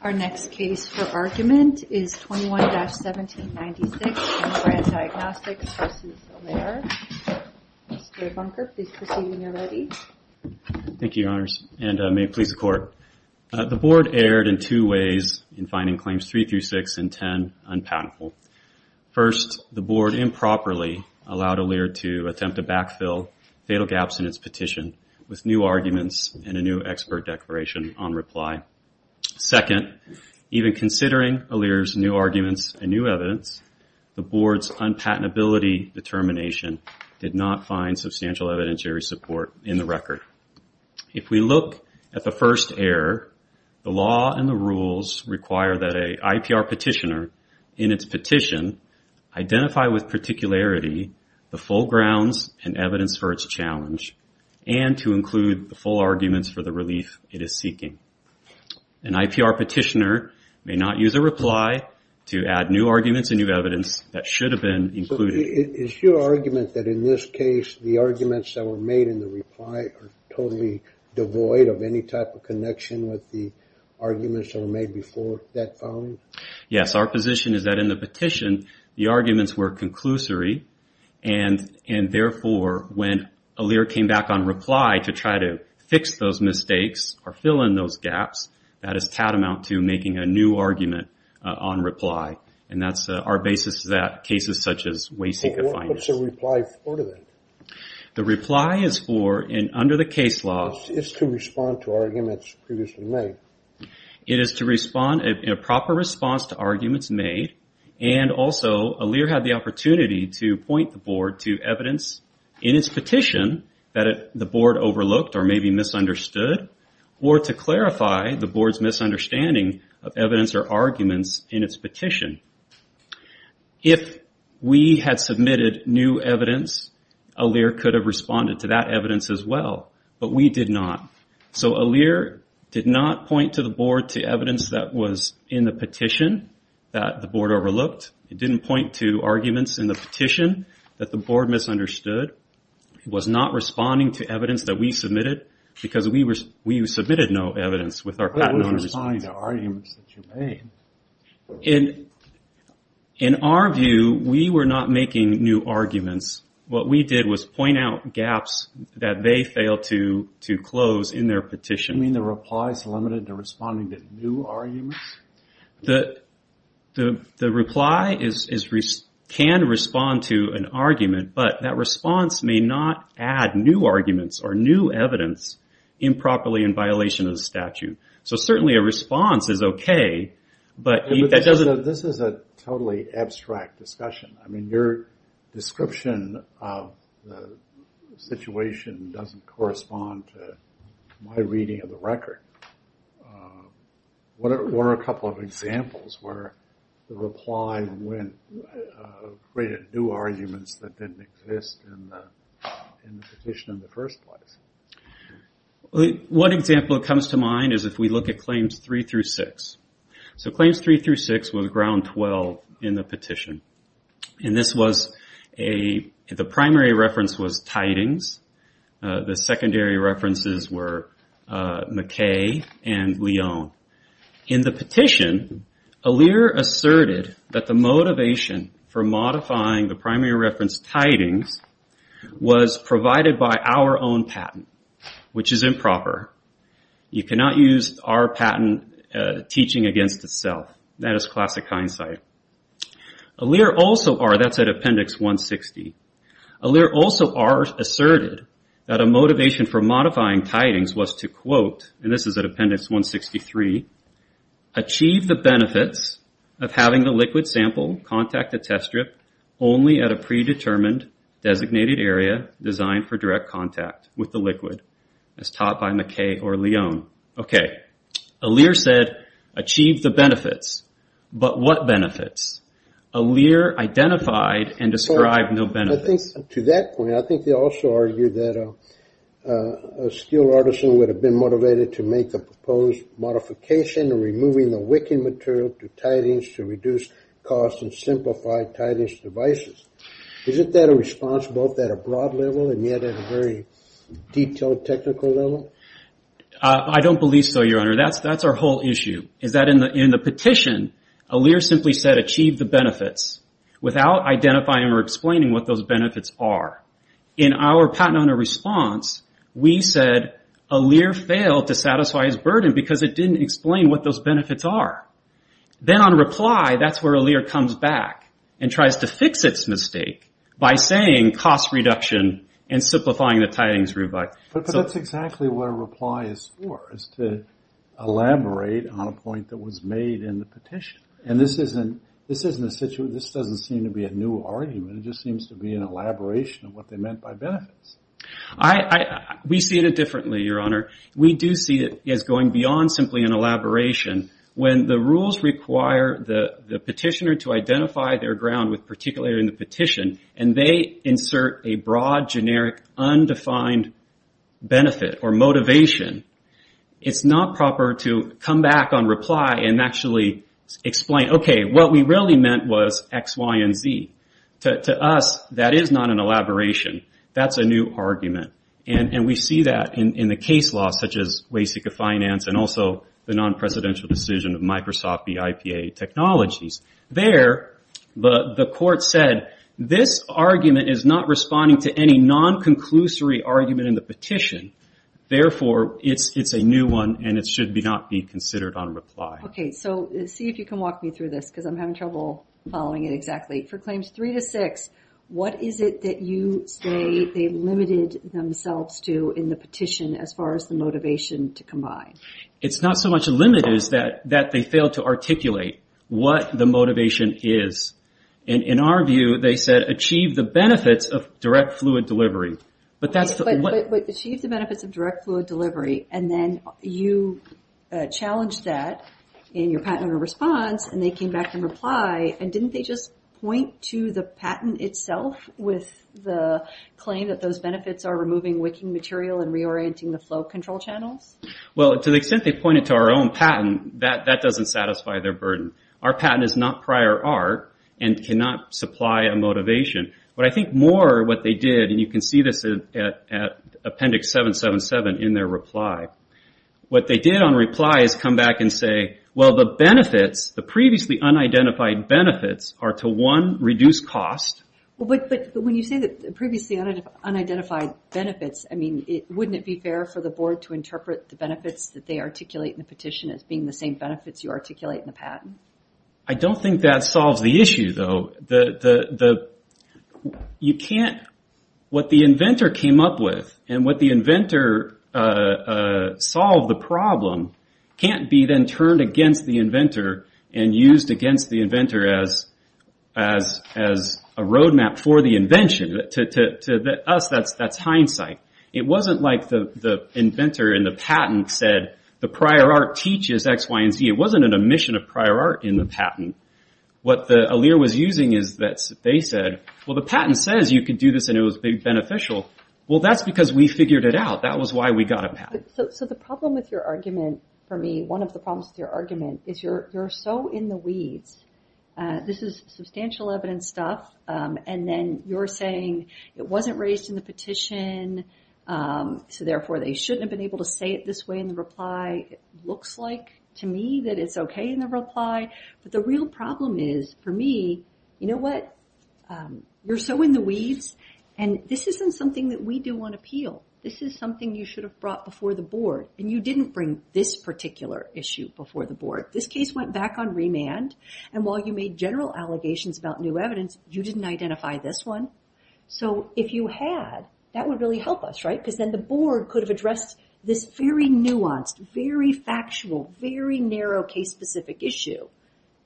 Our next case for argument is 21-1796, Brandt Diagnostics v. Alere. Mr. Bunker, please proceed when you're ready. Thank you, Your Honors, and may it please the Court. The Board erred in two ways in finding Claims 3-6 and 10 unpatentable. First, the Board improperly allowed Alere to attempt to backfill fatal gaps in its petition with new arguments and a new expert declaration on reply. Second, even considering Alere's new arguments and new evidence, the Board's unpatentability determination did not find substantial evidentiary support in the record. If we look at the first error, the law and the rules require that an IPR petitioner in its petition identify with particularity the full grounds and evidence for its challenge and to include the full arguments for the relief it is seeking. An IPR petitioner may not use a reply to add new arguments and new evidence that should have been included. Is your argument that in this case the arguments that were made in the reply are totally devoid of any type of connection with the arguments that were made before that filing? Yes, our position is that in the petition, the arguments were conclusory and therefore when Alere came back on reply to try to fix those mistakes or fill in those gaps, that is tatamount to making a new argument on reply. And that's our basis for that in cases such as Wayseeker findings. What's a reply for then? The reply is for, under the case law... It's to respond to arguments previously made. It is to respond in a proper response to arguments made and also Alere had the opportunity to point the board to evidence in its petition that the board overlooked or maybe misunderstood or to clarify the board's misunderstanding of evidence or arguments in its petition. If we had submitted new evidence, Alere could have responded to that evidence as well. But we did not. So Alere did not point to the board to evidence that was in the petition that the board overlooked. It didn't point to arguments in the petition that the board misunderstood. It was not responding to evidence that we submitted because we submitted no evidence with our... It was responding to arguments that you made. In our view, we were not making new arguments. What we did was point out gaps that they failed to close in their petition. You mean the reply is limited to responding to new arguments? The reply can respond to an argument, but that response may not add new arguments or new evidence improperly in violation of the statute. So certainly a response is okay, but that doesn't... This is a totally abstract discussion. I mean, your description of the situation doesn't correspond to my reading of the record. What are a couple of examples where the reply created new arguments that didn't exist in the petition in the first place? One example that comes to mind is if we look at claims three through six. Claims three through six was ground 12 in the petition. The primary reference was tidings. The secondary references were McKay and Leon. In the petition, Allure asserted that the motivation for modifying the primary reference tidings was provided by our own patent, which is improper. You cannot use our patent teaching against itself. That is classic hindsight. That's at appendix 160. Allure also asserted that a motivation for modifying tidings was to, quote, and this is at appendix 163, achieve the benefits of having the liquid sample contact the test strip only at a predetermined designated area designed for direct contact with the liquid, as taught by McKay or Leon. Okay. Allure said achieve the benefits, but what benefits? Allure identified and described no benefits. To that point, I think they also argued that a skilled artisan would have been motivated to make a proposed modification removing the wicking material to tidings to reduce cost and simplify tidings devices. Isn't that a response both at a broad level and yet at a very detailed technical level? I don't believe so, Your Honor. That's our whole issue, is that in the petition, Allure simply said achieve the benefits without identifying or explaining what those benefits are. In our patent owner response, we said Allure failed to satisfy his burden because it didn't explain what those benefits are. Then on reply, that's where Allure comes back and tries to fix its mistake by saying cost reduction and simplifying the tidings robot. But that's exactly what a reply is for, is to elaborate on a point that was made in the petition. And this doesn't seem to be a new argument. It just seems to be an elaboration of what they meant by benefits. We see it differently, Your Honor. We do see it as going beyond simply an elaboration. When the rules require the petitioner to identify their ground with particular in the petition and they insert a broad, generic, undefined benefit or motivation, it's not proper to come back on reply and actually explain, okay, what we really meant was X, Y, and Z. To us, that is not an elaboration. That's a new argument. And we see that in the case law, such as Waseca Finance and also the non-presidential decision of Microsoft v. IPA Technologies. There, the court said this argument is not responding to any non-conclusory argument in the petition. Therefore, it's a new one and it should not be considered on reply. Okay, so see if you can walk me through this because I'm having trouble following it exactly. For Claims 3-6, what is it that you say they limited themselves to in the petition as far as the motivation to combine? It's not so much limited as that they failed to articulate what the motivation is. In our view, they said achieve the benefits of direct fluid delivery. But achieve the benefits of direct fluid delivery and then you challenged that in your patented response and they came back and replied. And didn't they just point to the patent itself with the claim that those benefits are removing wicking material and reorienting the flow control channels? Well, to the extent they pointed to our own patent, that doesn't satisfy their burden. Our patent is not prior art and cannot supply a motivation. But I think more what they did, and you can see this at appendix 777 in their reply. What they did on reply is come back and say, well, the benefits, the previously unidentified benefits are to one, reduce cost. But when you say the previously unidentified benefits, wouldn't it be fair for the board to interpret the benefits that they articulate in the petition as being the same benefits you articulate in the patent? I don't think that solves the issue, though. What the inventor came up with and what the inventor solved the problem can't be then turned against the inventor and used against the inventor as a roadmap for the invention. To us, that's hindsight. It wasn't like the inventor in the patent said the prior art teaches X, Y, and Z. It wasn't an omission of prior art in the patent. What the allure was using is that they said, well, the patent says you can do this and it was beneficial. Well, that's because we figured it out. That was why we got a patent. So the problem with your argument for me, one of the problems with your argument, is you're so in the weeds. This is substantial evidence stuff. And then you're saying it wasn't raised in the petition, so therefore they shouldn't have been able to say it this way in the reply. It looks like to me that it's okay in the reply. But the real problem is, for me, you know what? You're so in the weeds, and this isn't something that we do on appeal. This is something you should have brought before the board, and you didn't bring this particular issue before the board. This case went back on remand, and while you made general allegations about new evidence, you didn't identify this one. So if you had, that would really help us, right? Because then the board could have addressed this very nuanced, very factual, very narrow case-specific issue.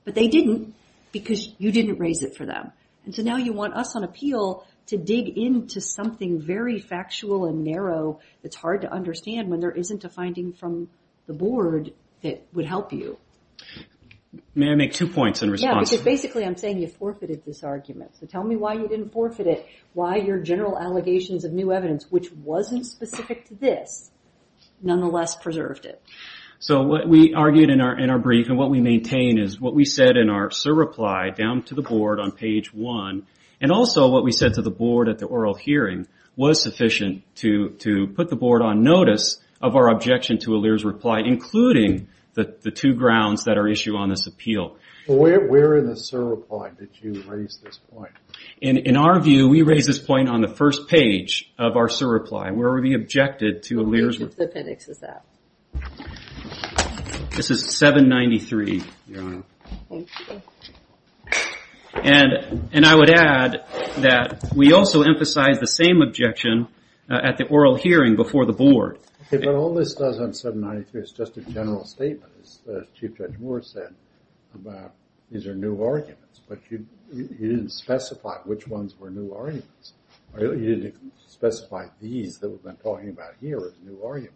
But they didn't because you didn't raise it for them. And so now you want us on appeal to dig into something very factual and narrow that's hard to understand when there isn't a finding from the board that would help you. May I make two points in response? Yeah, because basically I'm saying you forfeited this argument. So tell me why you didn't forfeit it, why your general allegations of new evidence, which wasn't specific to this, nonetheless preserved it. So what we argued in our brief, and what we maintain, is what we said in our surreply down to the board on page 1, and also what we said to the board at the oral hearing, was sufficient to put the board on notice of our objection to Aaliyah's reply, including the two grounds that are issued on this appeal. Where in the surreply did you raise this point? In our view, we raised this point on the first page of our surreply, where we objected to Aaliyah's reply. Which appendix is that? This is 793, Your Honor. Thank you. And I would add that we also emphasized the same objection at the oral hearing before the board. Okay, but all this does on 793 is just a general statement, as Chief Judge Moore said, about these are new arguments. But you didn't specify which ones were new arguments. You didn't specify these that we've been talking about here as new arguments.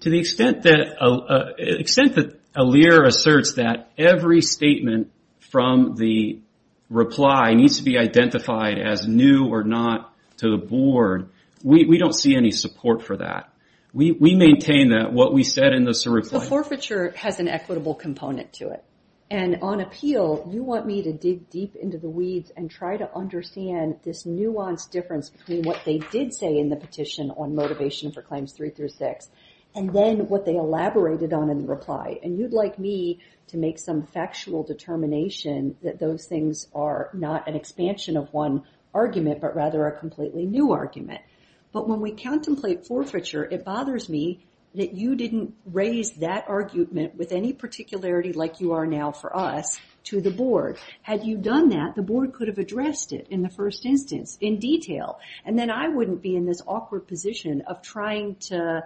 To the extent that Aaliyah asserts that every statement from the reply needs to be identified as new or not to the board, we don't see any support for that. We maintain that what we said in the surreply... The forfeiture has an equitable component to it. And on appeal, you want me to dig deep into the weeds and try to understand this nuanced difference between what they did say in the petition on Motivation for Claims 3-6 and then what they elaborated on in the reply. And you'd like me to make some factual determination that those things are not an expansion of one argument, but rather a completely new argument. But when we contemplate forfeiture, it bothers me that you didn't raise that argument with any particularity like you are now for us to the board. Had you done that, the board could have addressed it in the first instance in detail. And then I wouldn't be in this awkward position of trying to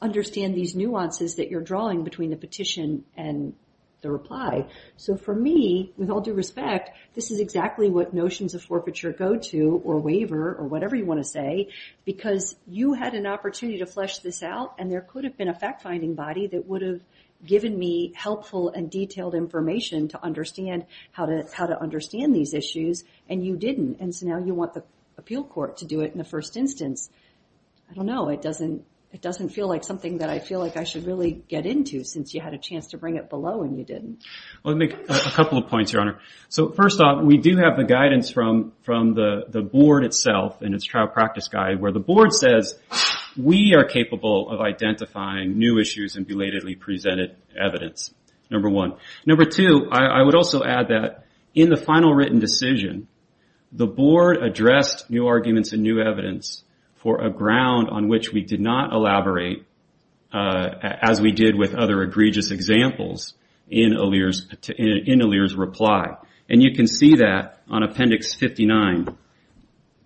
understand these nuances that you're drawing between the petition and the reply. So for me, with all due respect, this is exactly what notions of forfeiture go to or waiver or whatever you want to say because you had an opportunity to flesh this out and there could have been a fact-finding body that would have given me helpful and detailed information to understand how to understand these issues and you didn't. And so now you want the appeal court to do it in the first instance. I don't know, it doesn't feel like something that I feel like I should really get into since you had a chance to bring it below and you didn't. Let me make a couple of points, Your Honor. So first off, we do have the guidance from the board itself and its trial practice guide where the board says, we are capable of identifying new issues and belatedly presented evidence, number one. Number two, I would also add that in the final written decision, the board addressed new arguments and new evidence for a ground on which we did not elaborate as we did with other egregious examples in Aaliyah's reply. And you can see that on Appendix 59.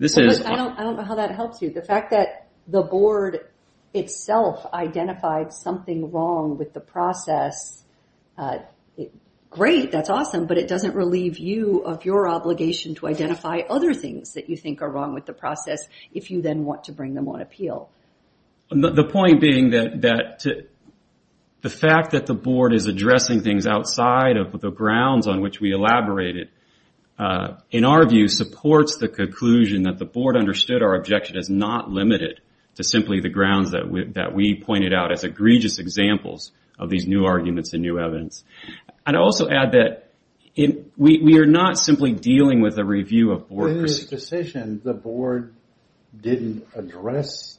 I don't know how that helps you. The fact that the board itself identified something wrong with the process, great, that's awesome, but it doesn't relieve you of your obligation to identify other things that you think are wrong with the process if you then want to bring them on appeal. The point being that the fact that the board is addressing things outside of the grounds on which we elaborated, in our view, supports the conclusion that the board understood our objection is not limited to simply the grounds that we pointed out as egregious examples of these new arguments and new evidence. I'd also add that we are not simply dealing with a review of board... In the decision, the board didn't address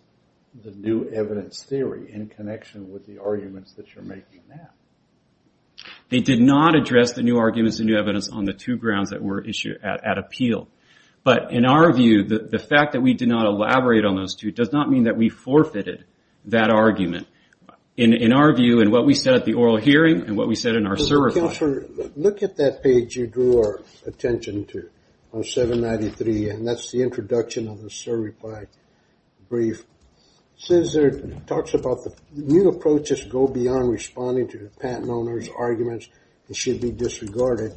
the new evidence theory in connection with the arguments that you're making now. They did not address the new arguments and new evidence on the two grounds that were at appeal. But in our view, the fact that we did not elaborate on those two does not mean that we forfeited that argument. In our view, in what we said at the oral hearing and what we said in our certify... Look at that page you drew our attention to on 793, and that's the introduction of the certify brief. It talks about the new approaches go beyond responding to the patent owner's arguments and should be disregarded,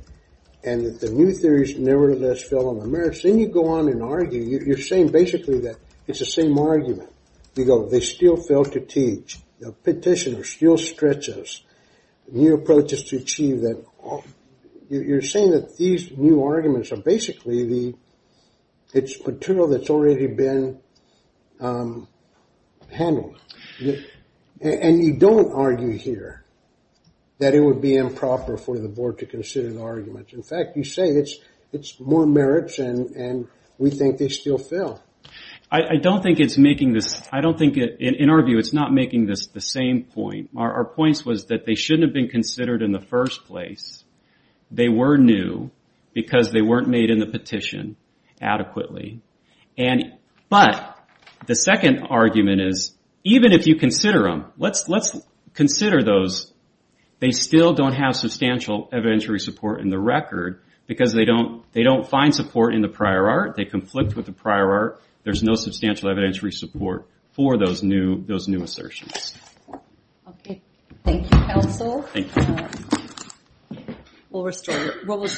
and that the new theories nevertheless fell on the merits. Then you go on and argue. You're saying basically that it's the same argument. You go, they still fail to teach. The petitioner still stretches new approaches to achieve that... You're saying that these new arguments are basically the... It's material that's already been handled. And you don't argue here that it would be improper for the board to consider the arguments. In fact, you say it's more merits and we think they still fail. I don't think it's making this... In our view, it's not making this the same point. Our point was that they shouldn't have been considered in the first place. They were new because they weren't made in the petition adequately. But the second argument is, even if you consider them, let's consider those. They still don't have substantial evidentiary support in the record because they don't find support in the prior art. They conflict with the prior art. There's no substantial evidentiary support for those new assertions. Okay. Thank you, counsel. Thank you. We'll restore...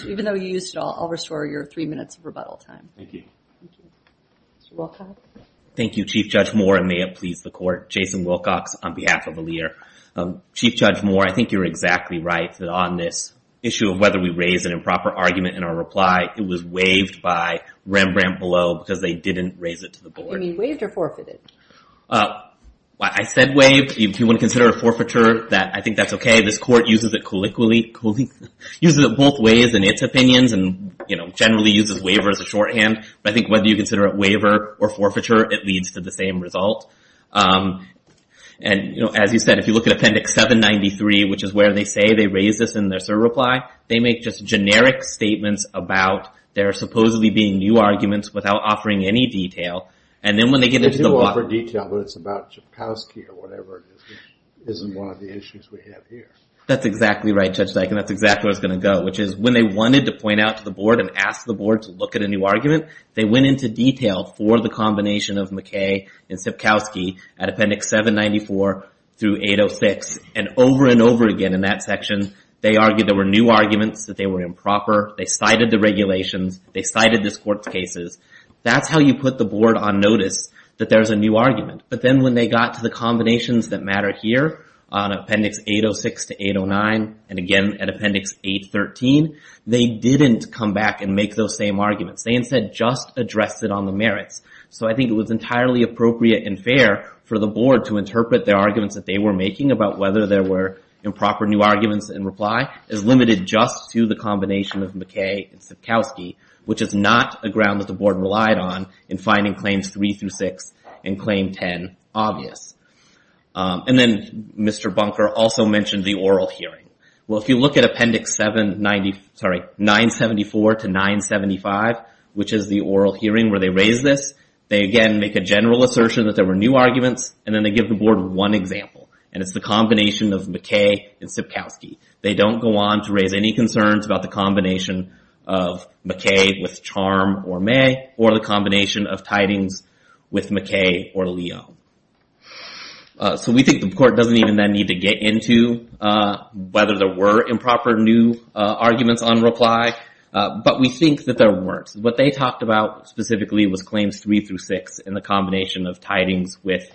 Even though you used it all, I'll restore your three minutes of rebuttal time. Thank you. Mr. Wilcox. Thank you, Chief Judge Moore, and may it please the court. Jason Wilcox on behalf of ALEAR. Chief Judge Moore, I think you're exactly right on this issue of whether we raise an improper argument in our reply. It was waived by Rembrandt below because they didn't raise it to the board. You mean waived or forfeited? I said waived. If you want to consider it forfeiture, I think that's okay. This court uses it colloquially... uses it both ways in its opinions and generally uses waiver as a shorthand. But I think whether you consider it waiver or forfeiture, it leads to the same result. And as you said, if you look at Appendix 793, which is where they say they raised this in their cert reply, they make just generic statements about there supposedly being new arguments without offering any detail, and then when they get into the... They do offer detail, but it's about Sipkowski or whatever. It isn't one of the issues we have here. That's exactly right, Judge Dyken. That's exactly where it's going to go, which is when they wanted to point out to the board and ask the board to look at a new argument, they went into detail for the combination of McKay and Sipkowski at Appendix 794 through 806, and over and over again in that section, they argued there were new arguments, that they were improper. They cited the regulations. They cited this court's cases. That's how you put the board on notice that there's a new argument. But then when they got to the combinations that matter here on Appendix 806 to 809, and again at Appendix 813, they didn't come back and make those same arguments. They instead just addressed it on the merits. So I think it was entirely appropriate and fair for the board to interpret their arguments that they were making about whether there were improper new arguments in reply as limited just to the combination of McKay and Sipkowski, which is not a ground that the board relied on in finding Claims 3 through 6 and Claim 10 obvious. And then Mr. Bunker also mentioned the oral hearing. Well, if you look at Appendix 790, sorry, 974 to 975, which is the oral hearing where they raise this, they again make a general assertion that there were new arguments, and then they give the board one example, and it's the combination of McKay and Sipkowski. They don't go on to raise any concerns about the combination of McKay with Charm or May or the combination of tidings with McKay or Leo. So we think the court doesn't even then need to get into whether there were improper new arguments on reply, but we think that there weren't. What they talked about specifically was Claims 3 through 6 and the combination of tidings with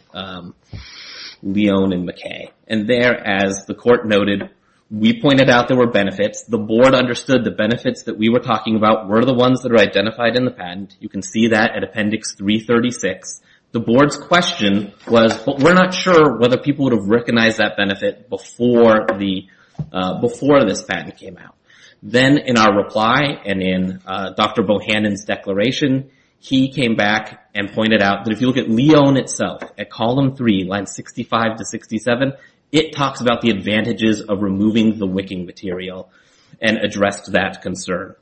Leo and McKay. And there, as the court noted, we pointed out there were benefits. The board understood the benefits that we were talking about were the ones that are identified in the patent. You can see that at Appendix 336. The board's question was, but we're not sure whether people would have recognized that benefit before this patent came out. Then in our reply and in Dr. Bohannon's declaration, he came back and pointed out that if you look at Leo in itself, at Column 3, Lines 65 to 67, it talks about the advantages of removing the wicking material and addressed that concern.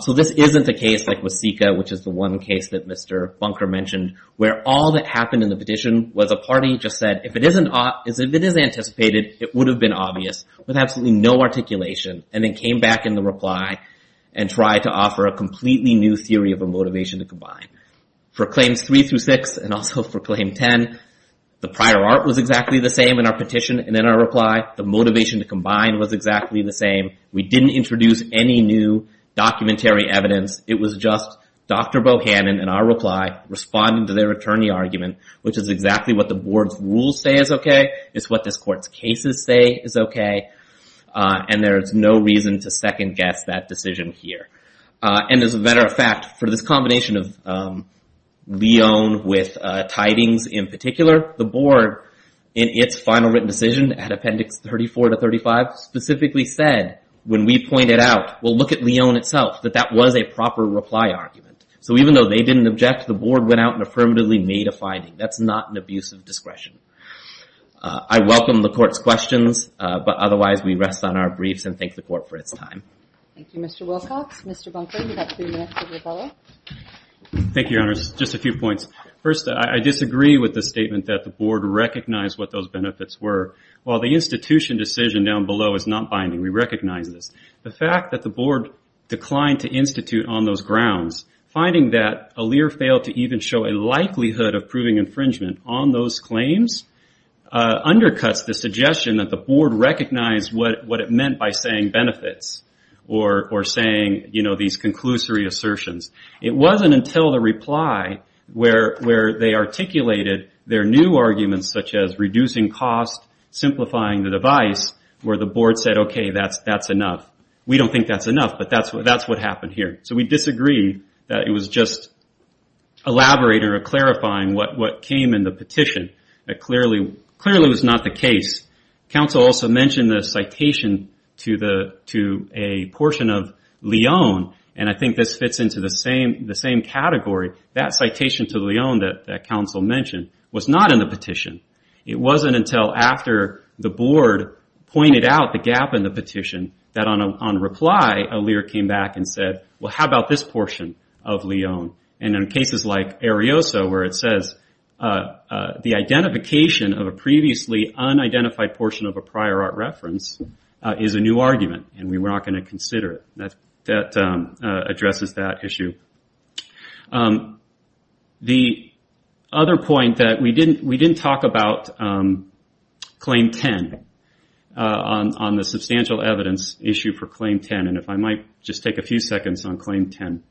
So this isn't a case like Wasika, which is the one case that Mr. Bunker mentioned, where all that happened in the petition was a party just said, if it is anticipated, it would have been obvious, with absolutely no articulation, and then came back in the reply and tried to offer a completely new theory of a motivation to combine. For Claims 3 through 6, and also for Claim 10, the prior art was exactly the same in our petition, and in our reply, the motivation to combine was exactly the same. We didn't introduce any new documentary evidence. It was just Dr. Bohannon, in our reply, responding to their attorney argument, which is exactly what the board's rules say is okay. It's what this court's cases say is okay. And there's no reason to second-guess that decision here. And as a matter of fact, for this combination of Leone with Tidings in particular, the board, in its final written decision, at Appendix 34 to 35, specifically said, when we pointed out, well, look at Leone itself, that that was a proper reply argument. So even though they didn't object, the board went out and affirmatively made a finding. That's not an abuse of discretion. I welcome the court's questions, but otherwise we rest on our briefs and thank the court for its time. Thank you, Mr. Wilcox. Mr. Bunker, you've got three minutes to rebuttal. Thank you, Your Honors. Just a few points. First, I disagree with the statement that the board recognized what those benefits were. While the institution decision down below is not binding, we recognize this. The fact that the board declined to institute on those grounds, finding that Aaliyah failed to even show a likelihood of proving infringement on those claims, undercuts the suggestion that the board recognized what it meant by saying benefits or saying these conclusory assertions. It wasn't until the reply where they articulated their new arguments, such as reducing cost, simplifying the device, where the board said, okay, that's enough. We don't think that's enough, but that's what happened here. So we disagree that it was just elaborating or clarifying what came in the petition. That clearly was not the case. Counsel also mentioned the citation to a portion of Leone, and I think this fits into the same category. That citation to Leone that counsel mentioned was not in the petition. It wasn't until after the board pointed out the gap in the petition that on reply, Aaliyah came back and said, well, how about this portion of Leone? In cases like Arioso where it says the identification of a previously unidentified portion of a prior art reference is a new argument and we were not going to consider it. That addresses that issue. The other point that we didn't talk about claim 10 on the substantial evidence issue for claim 10. If I might just take a few seconds on claim 10.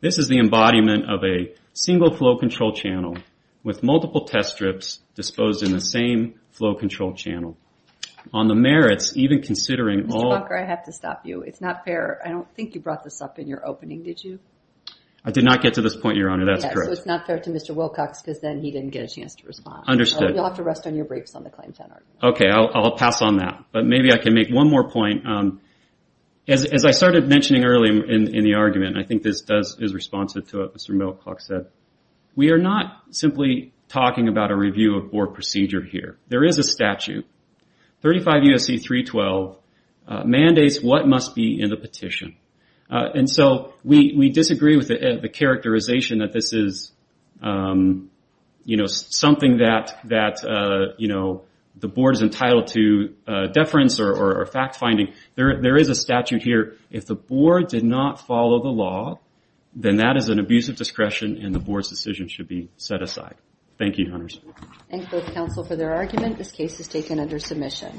This is the embodiment of a single flow control channel with multiple test strips disposed in the same flow control channel. On the merits, even considering all... I don't think you brought this up in your opening, did you? I did not get to this point, Your Honor, that's correct. It's not fair to Mr. Wilcox because then he didn't get a chance to respond. You'll have to rest on your briefs on the claim 10 argument. Okay, I'll pass on that. Maybe I can make one more point. As I started mentioning earlier in the argument, I think this is responsive to what Mr. Milcox said. We are not simply talking about a review of board procedure here. There is a statute. 35 U.S.C. 312 mandates what must be in the petition. We disagree with the characterization that this is something that the board is entitled to deference or fact-finding. There is a statute here. If the board did not follow the law, then that is an abuse of discretion and the board's decision should be set aside. Thank you, Your Honors. Thank both counsel for their argument. This case is taken under submission.